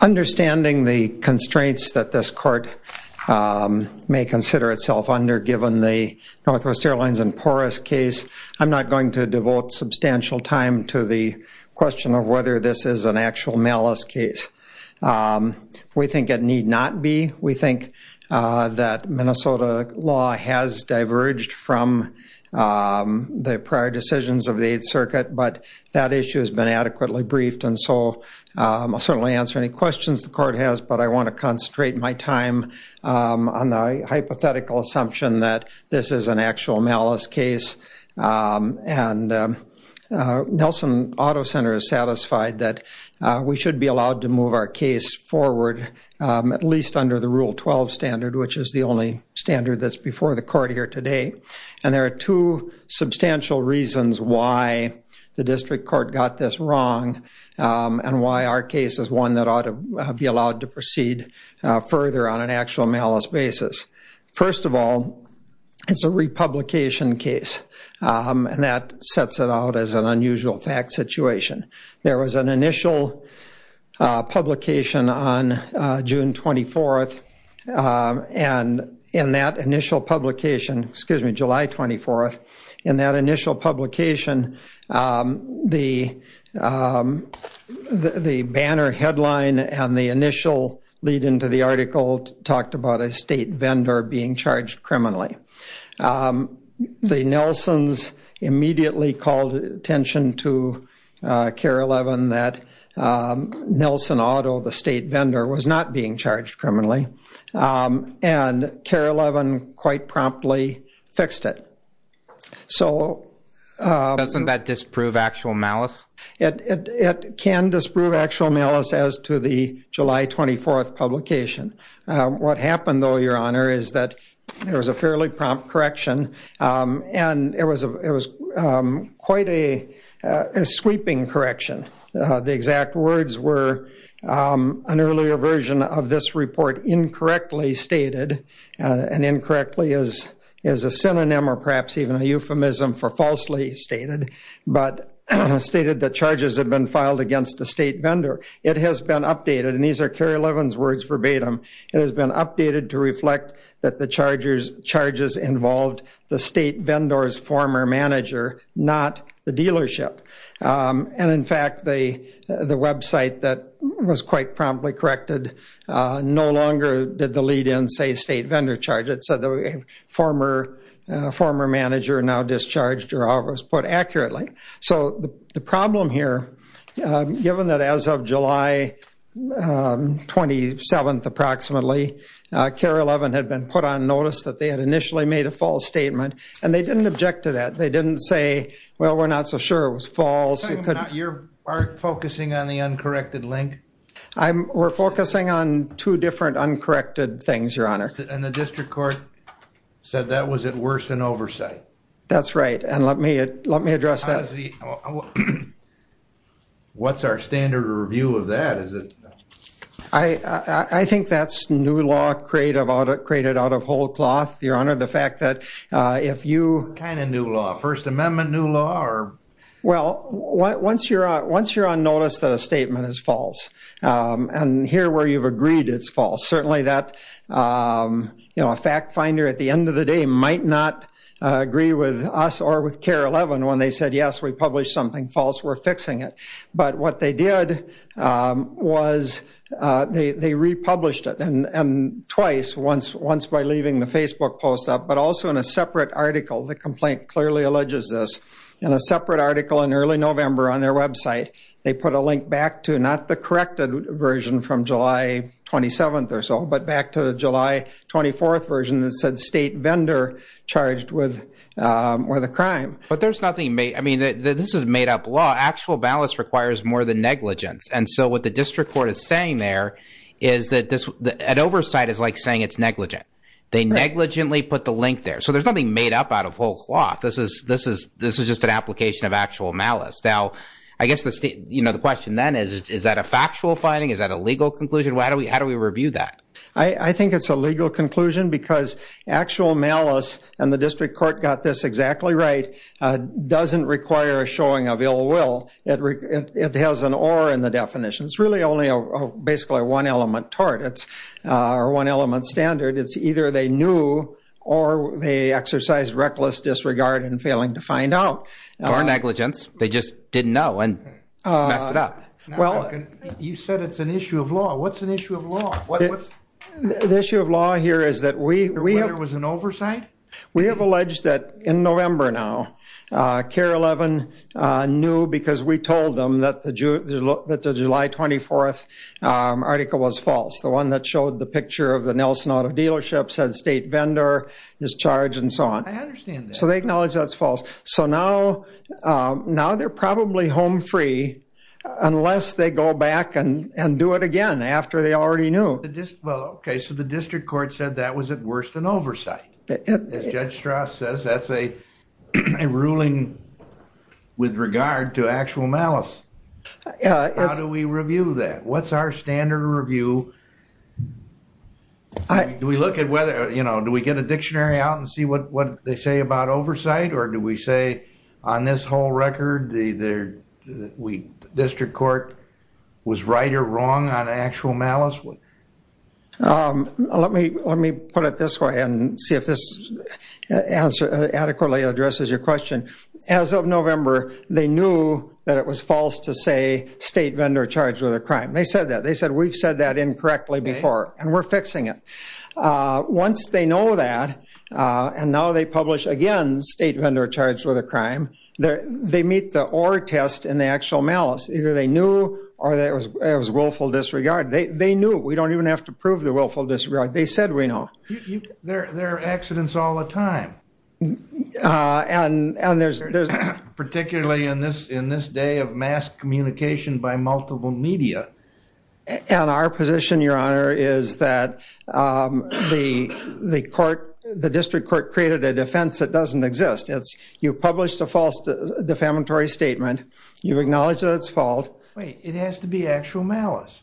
Understanding the constraints that this court may consider itself under given the NW Airlines and Porus case, I'm not going to devote substantial time to the question of whether this is an actual malice case. We think it need not be. We think that Minnesota law has diverged from the prior decisions of the 8th Circuit, but that issue has been adequately briefed, and so I'll certainly answer any questions the court has, but I want to concentrate my time on the hypothetical assumption that this is an actual malice case, and Nelson Auto Center is satisfied that we should be allowed to use the Rule 12 standard, which is the only standard that's before the court here today, and there are two substantial reasons why the district court got this wrong, and why our case is one that ought to be allowed to proceed further on an actual malice basis. First of all, it's a republication case, and that sets it out as an unusual fact situation. There was an initial publication on June 24th, and in that initial publication, excuse me, July 24th, in that initial publication, the banner headline and the initial lead-in to the article talked about a state vendor being charged criminally. The Nelsons immediately called attention to KARE 11 that Nelson Auto, the state vendor, was not being charged criminally, and KARE 11 quite promptly fixed it. So... Doesn't that disprove actual malice? It can disprove actual malice as to the July 24th publication. What happened, though, Your Honor, is that there was a fairly prompt correction, and it was quite a sweeping correction. The exact words were an earlier version of this report incorrectly stated, and incorrectly is a synonym or perhaps even a euphemism for falsely stated, but stated that charges had been filed against a state vendor. It has been updated, and these are KARE 11's words verbatim, it has been updated to reflect that the charges involved the state vendor's former manager, not the dealership, and in fact, the website that was quite promptly corrected no longer did the lead-in say state vendor charge, it said the former manager now discharged or was put accurately. So the problem here, given that as of July 27th, approximately, KARE 11 had been put on notice that they had initially made a false statement, and they didn't object to that. They didn't say, well, we're not so sure it was false. You're focusing on the uncorrected link? We're focusing on two different uncorrected things, Your Honor. And the district court said that was at worse than oversight. That's right, and let me address that. What's our standard review of that? I think that's new law created out of whole cloth, Your Honor. The fact that if you... What kind of new law? First Amendment new law? Well, once you're on notice that a statement is false, and here where you've agreed it's with us or with KARE 11 when they said, yes, we published something false, we're fixing it. But what they did was they republished it twice, once by leaving the Facebook post up, but also in a separate article. The complaint clearly alleges this. In a separate article in early November on their website, they put a link back to not the corrected version from July 27th or so, but back to the July 24th version that said state vendor charged with a crime. But there's nothing... I mean, this is made up law. Actual malice requires more than negligence. And so what the district court is saying there is that an oversight is like saying it's negligent. They negligently put the link there. So there's nothing made up out of whole cloth. This is just an application of actual malice. Now, I guess the question then is, is that a factual finding? Is that a legal conclusion? How do we review that? I think it's a legal conclusion because actual malice, and the district court got this exactly right, doesn't require a showing of ill will. It has an or in the definition. It's really only basically a one-element tort, or one-element standard. It's either they knew or they exercised reckless disregard in failing to find out. Or negligence. They just didn't know and messed it up. What's an issue of law? The issue of law here is that we have- Whether it was an oversight? We have alleged that in November now, CARE 11 knew because we told them that the July 24th article was false. The one that showed the picture of the Nelson Auto Dealership said state vendor is charged and so on. I understand that. So they acknowledge that's false. So now they're probably home free unless they go back and do it again after they already knew. Well, okay. So the district court said that was at worst an oversight. As Judge Strauss says, that's a ruling with regard to actual malice. How do we review that? What's our standard review? Do we look at whether- Do we get a dictionary out and see what they say about oversight or do we say on this whole record the district court was right or wrong on actual malice? Let me put it this way and see if this adequately addresses your question. As of November, they knew that it was false to say state vendor charged with a crime. They said that. They said we've said that incorrectly before and we're fixing it. Once they know that and now they publish again state vendor charged with a crime, they meet the or test in the actual malice. Either they knew or it was willful disregard. They knew. We don't even have to prove the willful disregard. They said we know. There are accidents all the time. Particularly in this day of mass communication by multiple media. And our position, your honor, is that the court, the district court created a defense that doesn't exist. You published a false defamatory statement. You acknowledge that it's false. It has to be actual malice.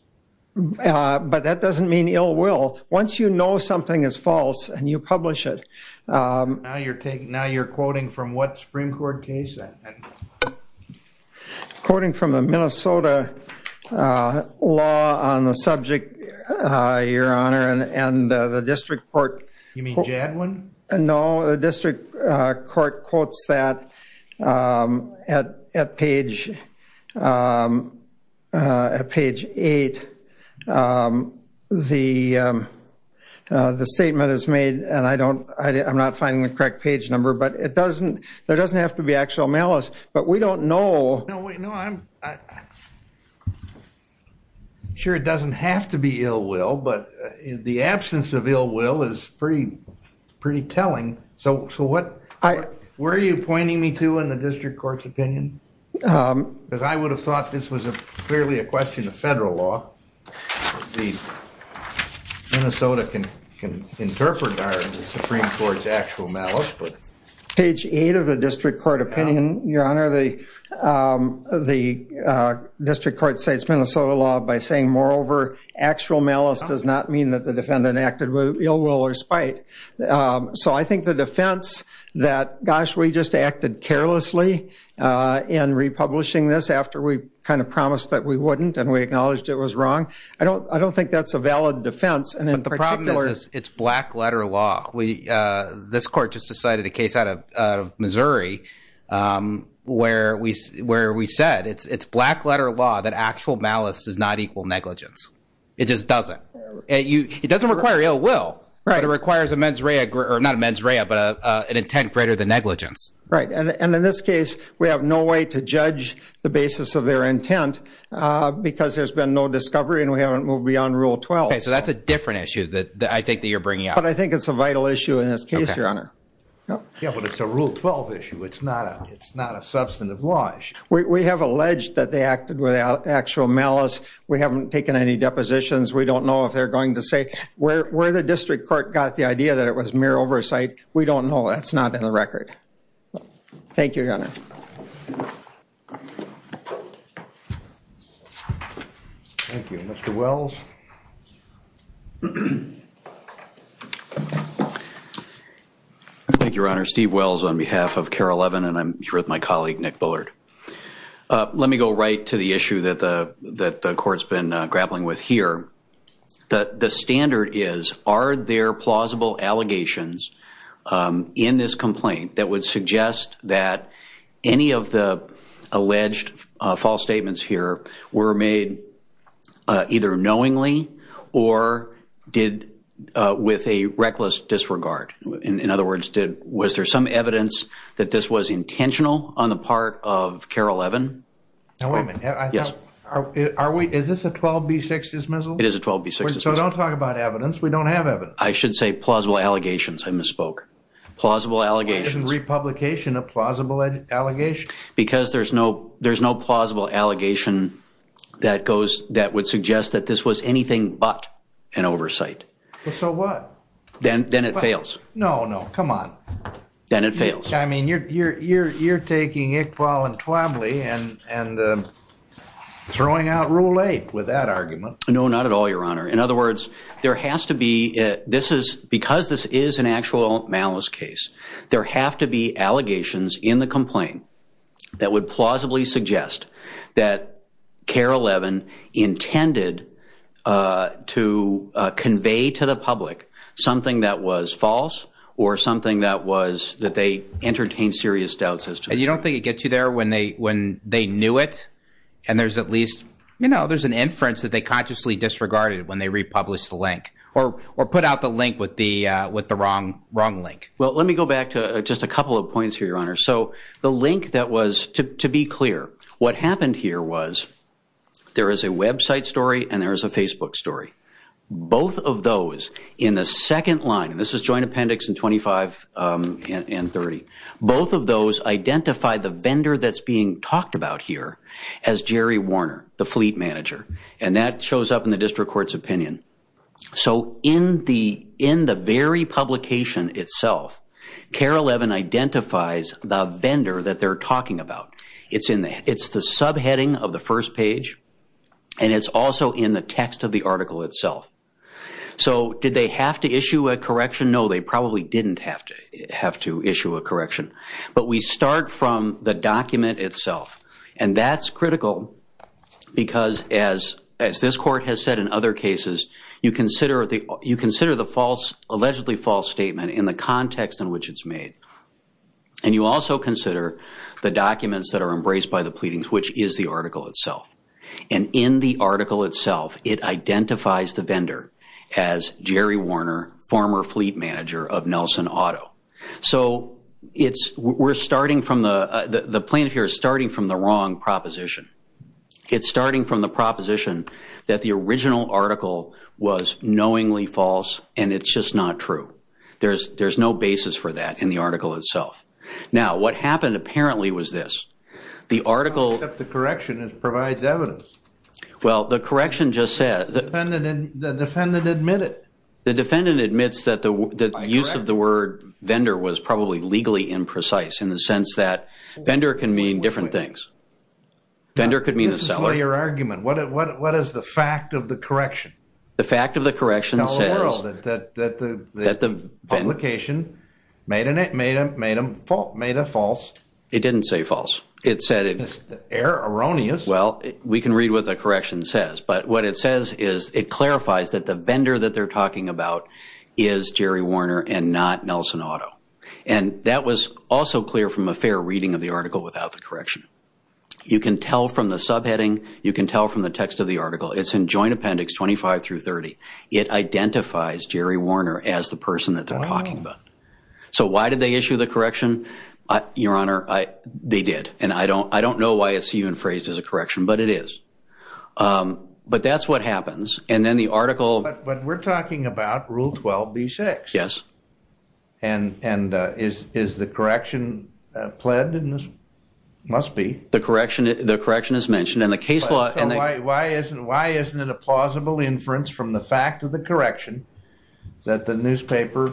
But that doesn't mean ill will. Once you know something is false and you publish it. Now you're quoting from what Supreme Court case? Quoting from the Minnesota law on the subject, your honor, and the district court. You mean Jadwin? No. The district court quotes that at page 8. The statement is made and I'm not finding the correct page number. But it doesn't, there doesn't have to be actual malice. But we don't know. No, I'm sure it doesn't have to be ill will. But the absence of ill will is pretty telling. So what, where are you pointing me to in the district court's opinion? Because I would have thought this was clearly a question of federal law. The Minnesota can interpret our Supreme Court's actual malice. Page 8 of the district court opinion, your honor, the district court states Minnesota law by saying, moreover, actual malice does not mean that the defendant acted with ill will or spite. So I think the defense that, gosh, we just acted carelessly in republishing this after we kind of promised that we wouldn't and we acknowledged it was wrong, I don't think that's a valid defense. But the problem is, it's black letter law. This court just decided a case out of Missouri where we said it's black letter law that actual malice does not equal negligence. It just doesn't. It doesn't require ill will, but it requires a mens rea, or not a mens rea, but an intent greater than negligence. Right. And in this case, we have no way to judge the basis of their intent because there's been no discovery and we haven't moved beyond Rule 12. Okay, so that's a different issue that I think that you're bringing up. But I think it's a vital issue in this case, your honor. Yeah, but it's a Rule 12 issue. It's not a substantive law issue. We have alleged that they acted without actual malice. We haven't taken any depositions. We don't know if they're going to say, where the district court got the idea that it was mere oversight, we don't know. That's not in the record. Thank you, your honor. Thank you. Mr. Wells. Thank you, your honor. Steve Wells on behalf of Carol Levin, and I'm here with my colleague, Nick Bullard. Let me go right to the issue that the court's been grappling with here. The standard is, are there plausible allegations in this complaint that would suggest that any of the alleged false statements here were made either knowingly or did with a reckless disregard? In other words, was there some evidence that this was intentional on the part of Carol Levin? Now, wait a minute. Yes. Is this a 12B6 dismissal? It is a 12B6 dismissal. So don't talk about evidence. We don't have evidence. I should say plausible allegations. I misspoke. Plausible allegations. Why isn't republication a plausible allegation? Because there's no plausible allegation that would suggest that this was anything but an So what? Then it fails. No, no. Come on. Then it fails. I mean, you're taking Iqbal and Twobly and throwing out Rule 8 with that argument. No, not at all, Your Honor. In other words, there has to be, because this is an actual malice case, there have to be allegations in the complaint that would plausibly suggest that Carol Levin intended to convey to the public something that was false or something that they entertained serious doubts as to. And you don't think it gets you there when they knew it and there's at least, you know, there's an inference that they consciously disregarded when they republished the link or put out the link with the wrong link? Well, let me go back to just a couple of points here, Your Honor. So the link that was, to be clear, what happened here was there is a website story and there is a Facebook story. Both of those in the second line, and this is joint appendix and 25 and 30, both of those identify the vendor that's being talked about here as Jerry Warner, the fleet manager. And that shows up in the district court's opinion. So in the very publication itself, Carol Levin identifies the vendor that they're talking about. It's the subheading of the first page and it's also in the text of the article itself. So did they have to issue a correction? No, they probably didn't have to issue a correction. But we start from the document itself. And that's critical because as this court has said in other cases, you consider the false, allegedly false statement in the context in which it's made. And you also consider the documents that are embraced by the pleadings, which is the article itself. And in the article itself, it identifies the vendor as Jerry Warner, former fleet manager of Nelson Auto. So it's, we're starting from the, the plaintiff here is starting from the wrong proposition. It's starting from the proposition that the original article was knowingly false and it's just not true. There's, there's no basis for that in the article itself. Now what happened apparently was this, the article, the correction provides evidence. Well the correction just said, the defendant admitted, the defendant admits that the use of the word vendor was probably legally imprecise in the sense that vendor can mean different things. Vendor could mean a seller. This is your argument. What is the fact of the correction? The fact of the correction says that the publication made a false. It didn't say false. It said it was erroneous. Well we can read what the correction says, but what it says is it clarifies that the vendor that they're talking about is Jerry Warner and not Nelson Auto. And that was also clear from a fair reading of the article without the correction. You can tell from the subheading, you can tell from the text of the article, it's in Joint Appendix 25 through 30. It identifies Jerry Warner as the person that they're talking about. So why did they issue the correction? Your Honor, they did. And I don't, I don't know why it's even phrased as a correction, but it is. But that's what happens. And then the article. But we're talking about Rule 12b-6. Yes. And, and is, is the correction pled in this? Must be. The correction, the correction is mentioned in the case law. Why isn't, why isn't it a plausible inference from the fact of the correction that the newspaper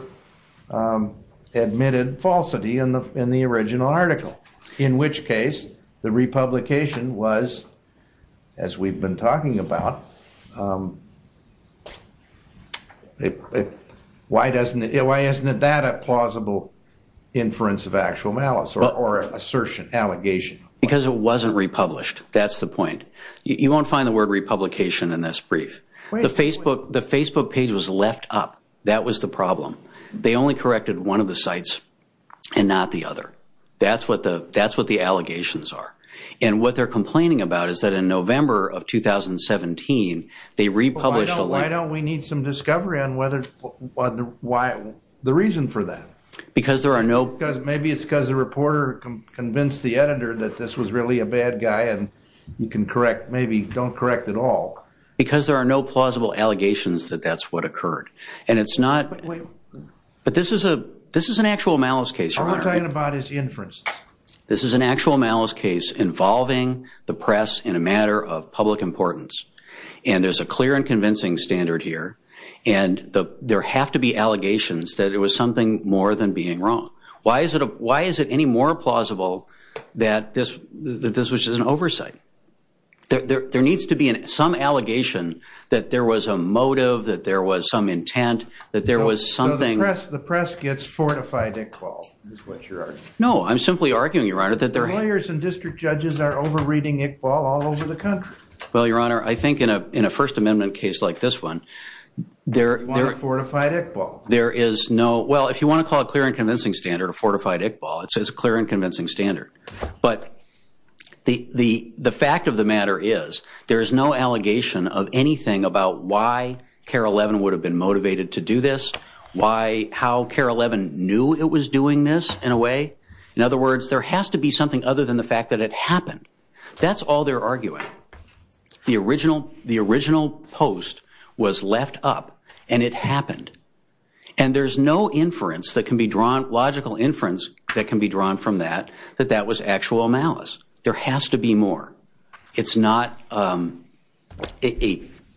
admitted falsity in the, in the original article? In which case, the republication was, as we've been talking about, why doesn't it, why isn't it that a plausible inference of actual malice or assertion, allegation? Because it wasn't republished. It wasn't republished. That's the point. You won't find the word republication in this brief. The Facebook, the Facebook page was left up. That was the problem. They only corrected one of the sites and not the other. That's what the, that's what the allegations are. And what they're complaining about is that in November of 2017, they republished a line. Why don't we need some discovery on whether, why, the reason for that? Because there are no. Maybe it's because the reporter convinced the editor that this was really a bad guy and you can correct, maybe don't correct at all. Because there are no plausible allegations that that's what occurred. And it's not, but this is a, this is an actual malice case. All I'm talking about is inference. This is an actual malice case involving the press in a matter of public importance. And there's a clear and convincing standard here. And the, there have to be allegations that it was something more than being wrong. Why is it a, why is it any more plausible that this, that this was just an oversight? There needs to be some allegation that there was a motive, that there was some intent, that there was something. So the press, the press gets fortified Iqbal is what you're arguing. No, I'm simply arguing, Your Honor, that there. Lawyers and district judges are over-reading Iqbal all over the country. Well, Your Honor, I think in a, in a First Amendment case like this one, there, there. You want a fortified Iqbal. There is no, well, if you want to call it clear and convincing standard, a fortified Iqbal, it's a clear and convincing standard. But the, the, the fact of the matter is, there is no allegation of anything about why KARE 11 would have been motivated to do this. Why, how KARE 11 knew it was doing this, in a way. In other words, there has to be something other than the fact that it happened. That's all they're arguing. The original, the original post was left up and it happened. And there's no inference that can be drawn, logical inference that can be drawn from that, that that was actual malice. There has to be more. It's not a,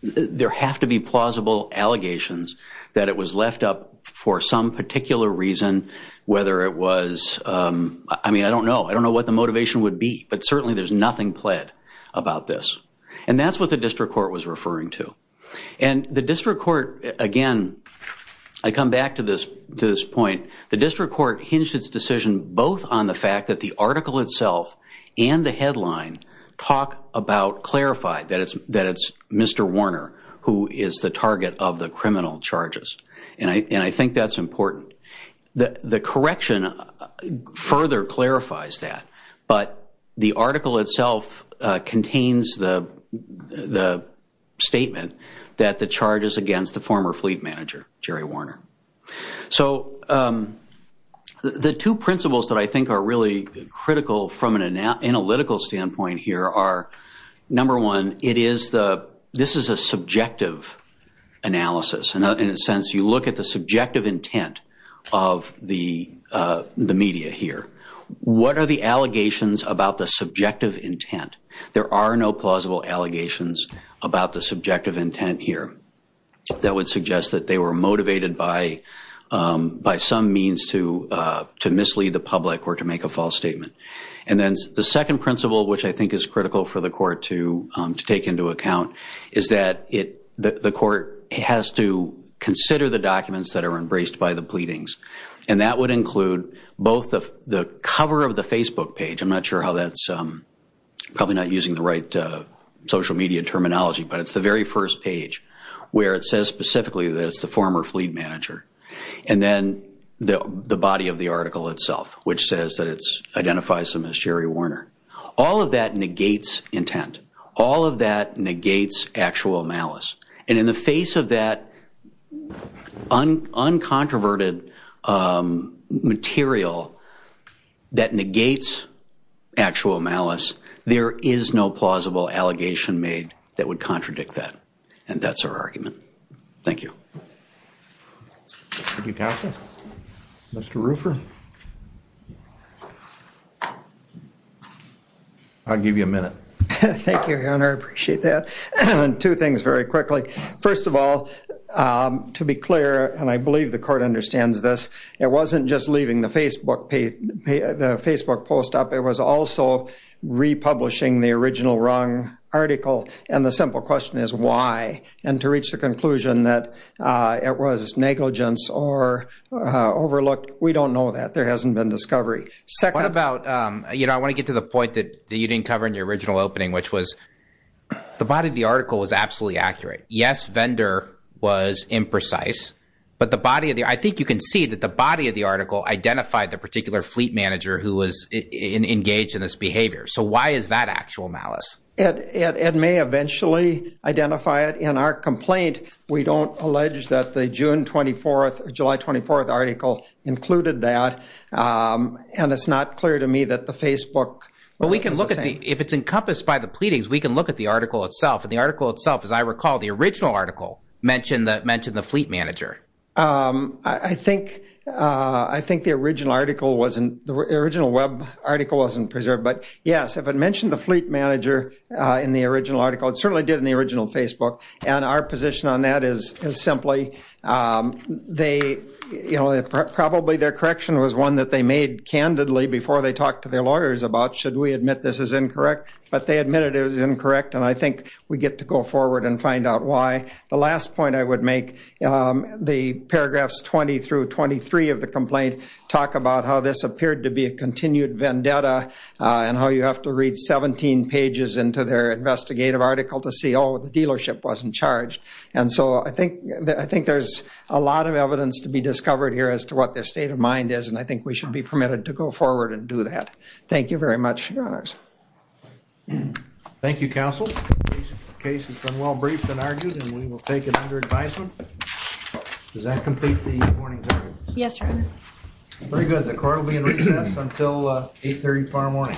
there have to be plausible allegations that it was left up for some particular reason, whether it was, I mean, I don't know, I don't know what the motivation would be, but certainly there's nothing pled about this. And that's what the district court was referring to. And the district court, again, I come back to this, to this point. The district court hinged its decision both on the fact that the article itself and the headline talk about, clarify that it's, that it's Mr. Warner who is the target of the criminal charges. And I, and I think that's important. The correction further clarifies that, but the article itself contains the, the statement that the charge is against the former fleet manager, Jerry Warner. So the two principles that I think are really critical from an analytical standpoint here are number one, it is the, this is a subjective analysis. And in a sense, you look at the subjective intent of the, the media here. What are the allegations about the subjective intent? There are no plausible allegations about the subjective intent here. That would suggest that they were motivated by, by some means to, to mislead the public or to make a false statement. And then the second principle, which I think is critical for the court to, to take into account, is that it, the court has to consider the documents that are embraced by the pleadings. And that would include both the, the cover of the Facebook page. I'm not sure how that's, probably not using the right social media terminology, but it's the very first page where it says specifically that it's the former fleet manager. And then the, the body of the article itself, which says that it's, identifies him as Jerry Warner. All of that negates intent. All of that negates actual malice. And in the face of that un, uncontroverted material that negates actual malice, there is no plausible allegation made that would contradict that. And that's our argument. Thank you. Thank you, Counselor. Mr. Ruffer. I'll give you a minute. Thank you, Your Honor. I appreciate that. And two things very quickly. First of all, to be clear, and I believe the court understands this, it wasn't just leaving the Facebook page, the Facebook post up. It was also republishing the original wrong article. And the simple question is why? And to reach the conclusion that it was negligence or overlooked. We don't know that. There hasn't been discovery. Second. What about, you know, I want to get to the point that you didn't cover in your original opening, which was the body of the article was absolutely accurate. Yes, Vendor was imprecise. But the body of the, I think you can see that the body of the article identified the particular fleet manager who was engaged in this behavior. So why is that actual malice? It may eventually identify it in our complaint. We don't allege that the June 24th, July 24th article included that. And it's not clear to me that the Facebook. But we can look at the, if it's encompassed by the pleadings, we can look at the article itself and the article itself, as I recall, the original article mentioned that mentioned the fleet manager. I think I think the original article wasn't the original web article wasn't preserved. But yes, if it mentioned the fleet manager in the original article, it certainly did in the original Facebook. And our position on that is simply they, you know, probably their correction was one that they made candidly before they talked to their lawyers about should we admit this is incorrect, but they admitted it was incorrect. And I think we get to go forward and find out why. The last point I would make the paragraphs 20 through 23 of the complaint talk about how this appeared to be a continued vendetta and how you have to read 17 pages into their investigative article to see oh, the dealership wasn't charged. And so I think I think there's a lot of evidence to be discovered here as to what their state of mind is. And I think we should be permitted to go forward and do that. Thank you very much, Your Honors. Thank you, counsel. The case has been well briefed and argued and we will take it under advisement. Does that complete the morning service? Yes, Your Honor. Very good. The court will be in recess until 8.30 tomorrow morning.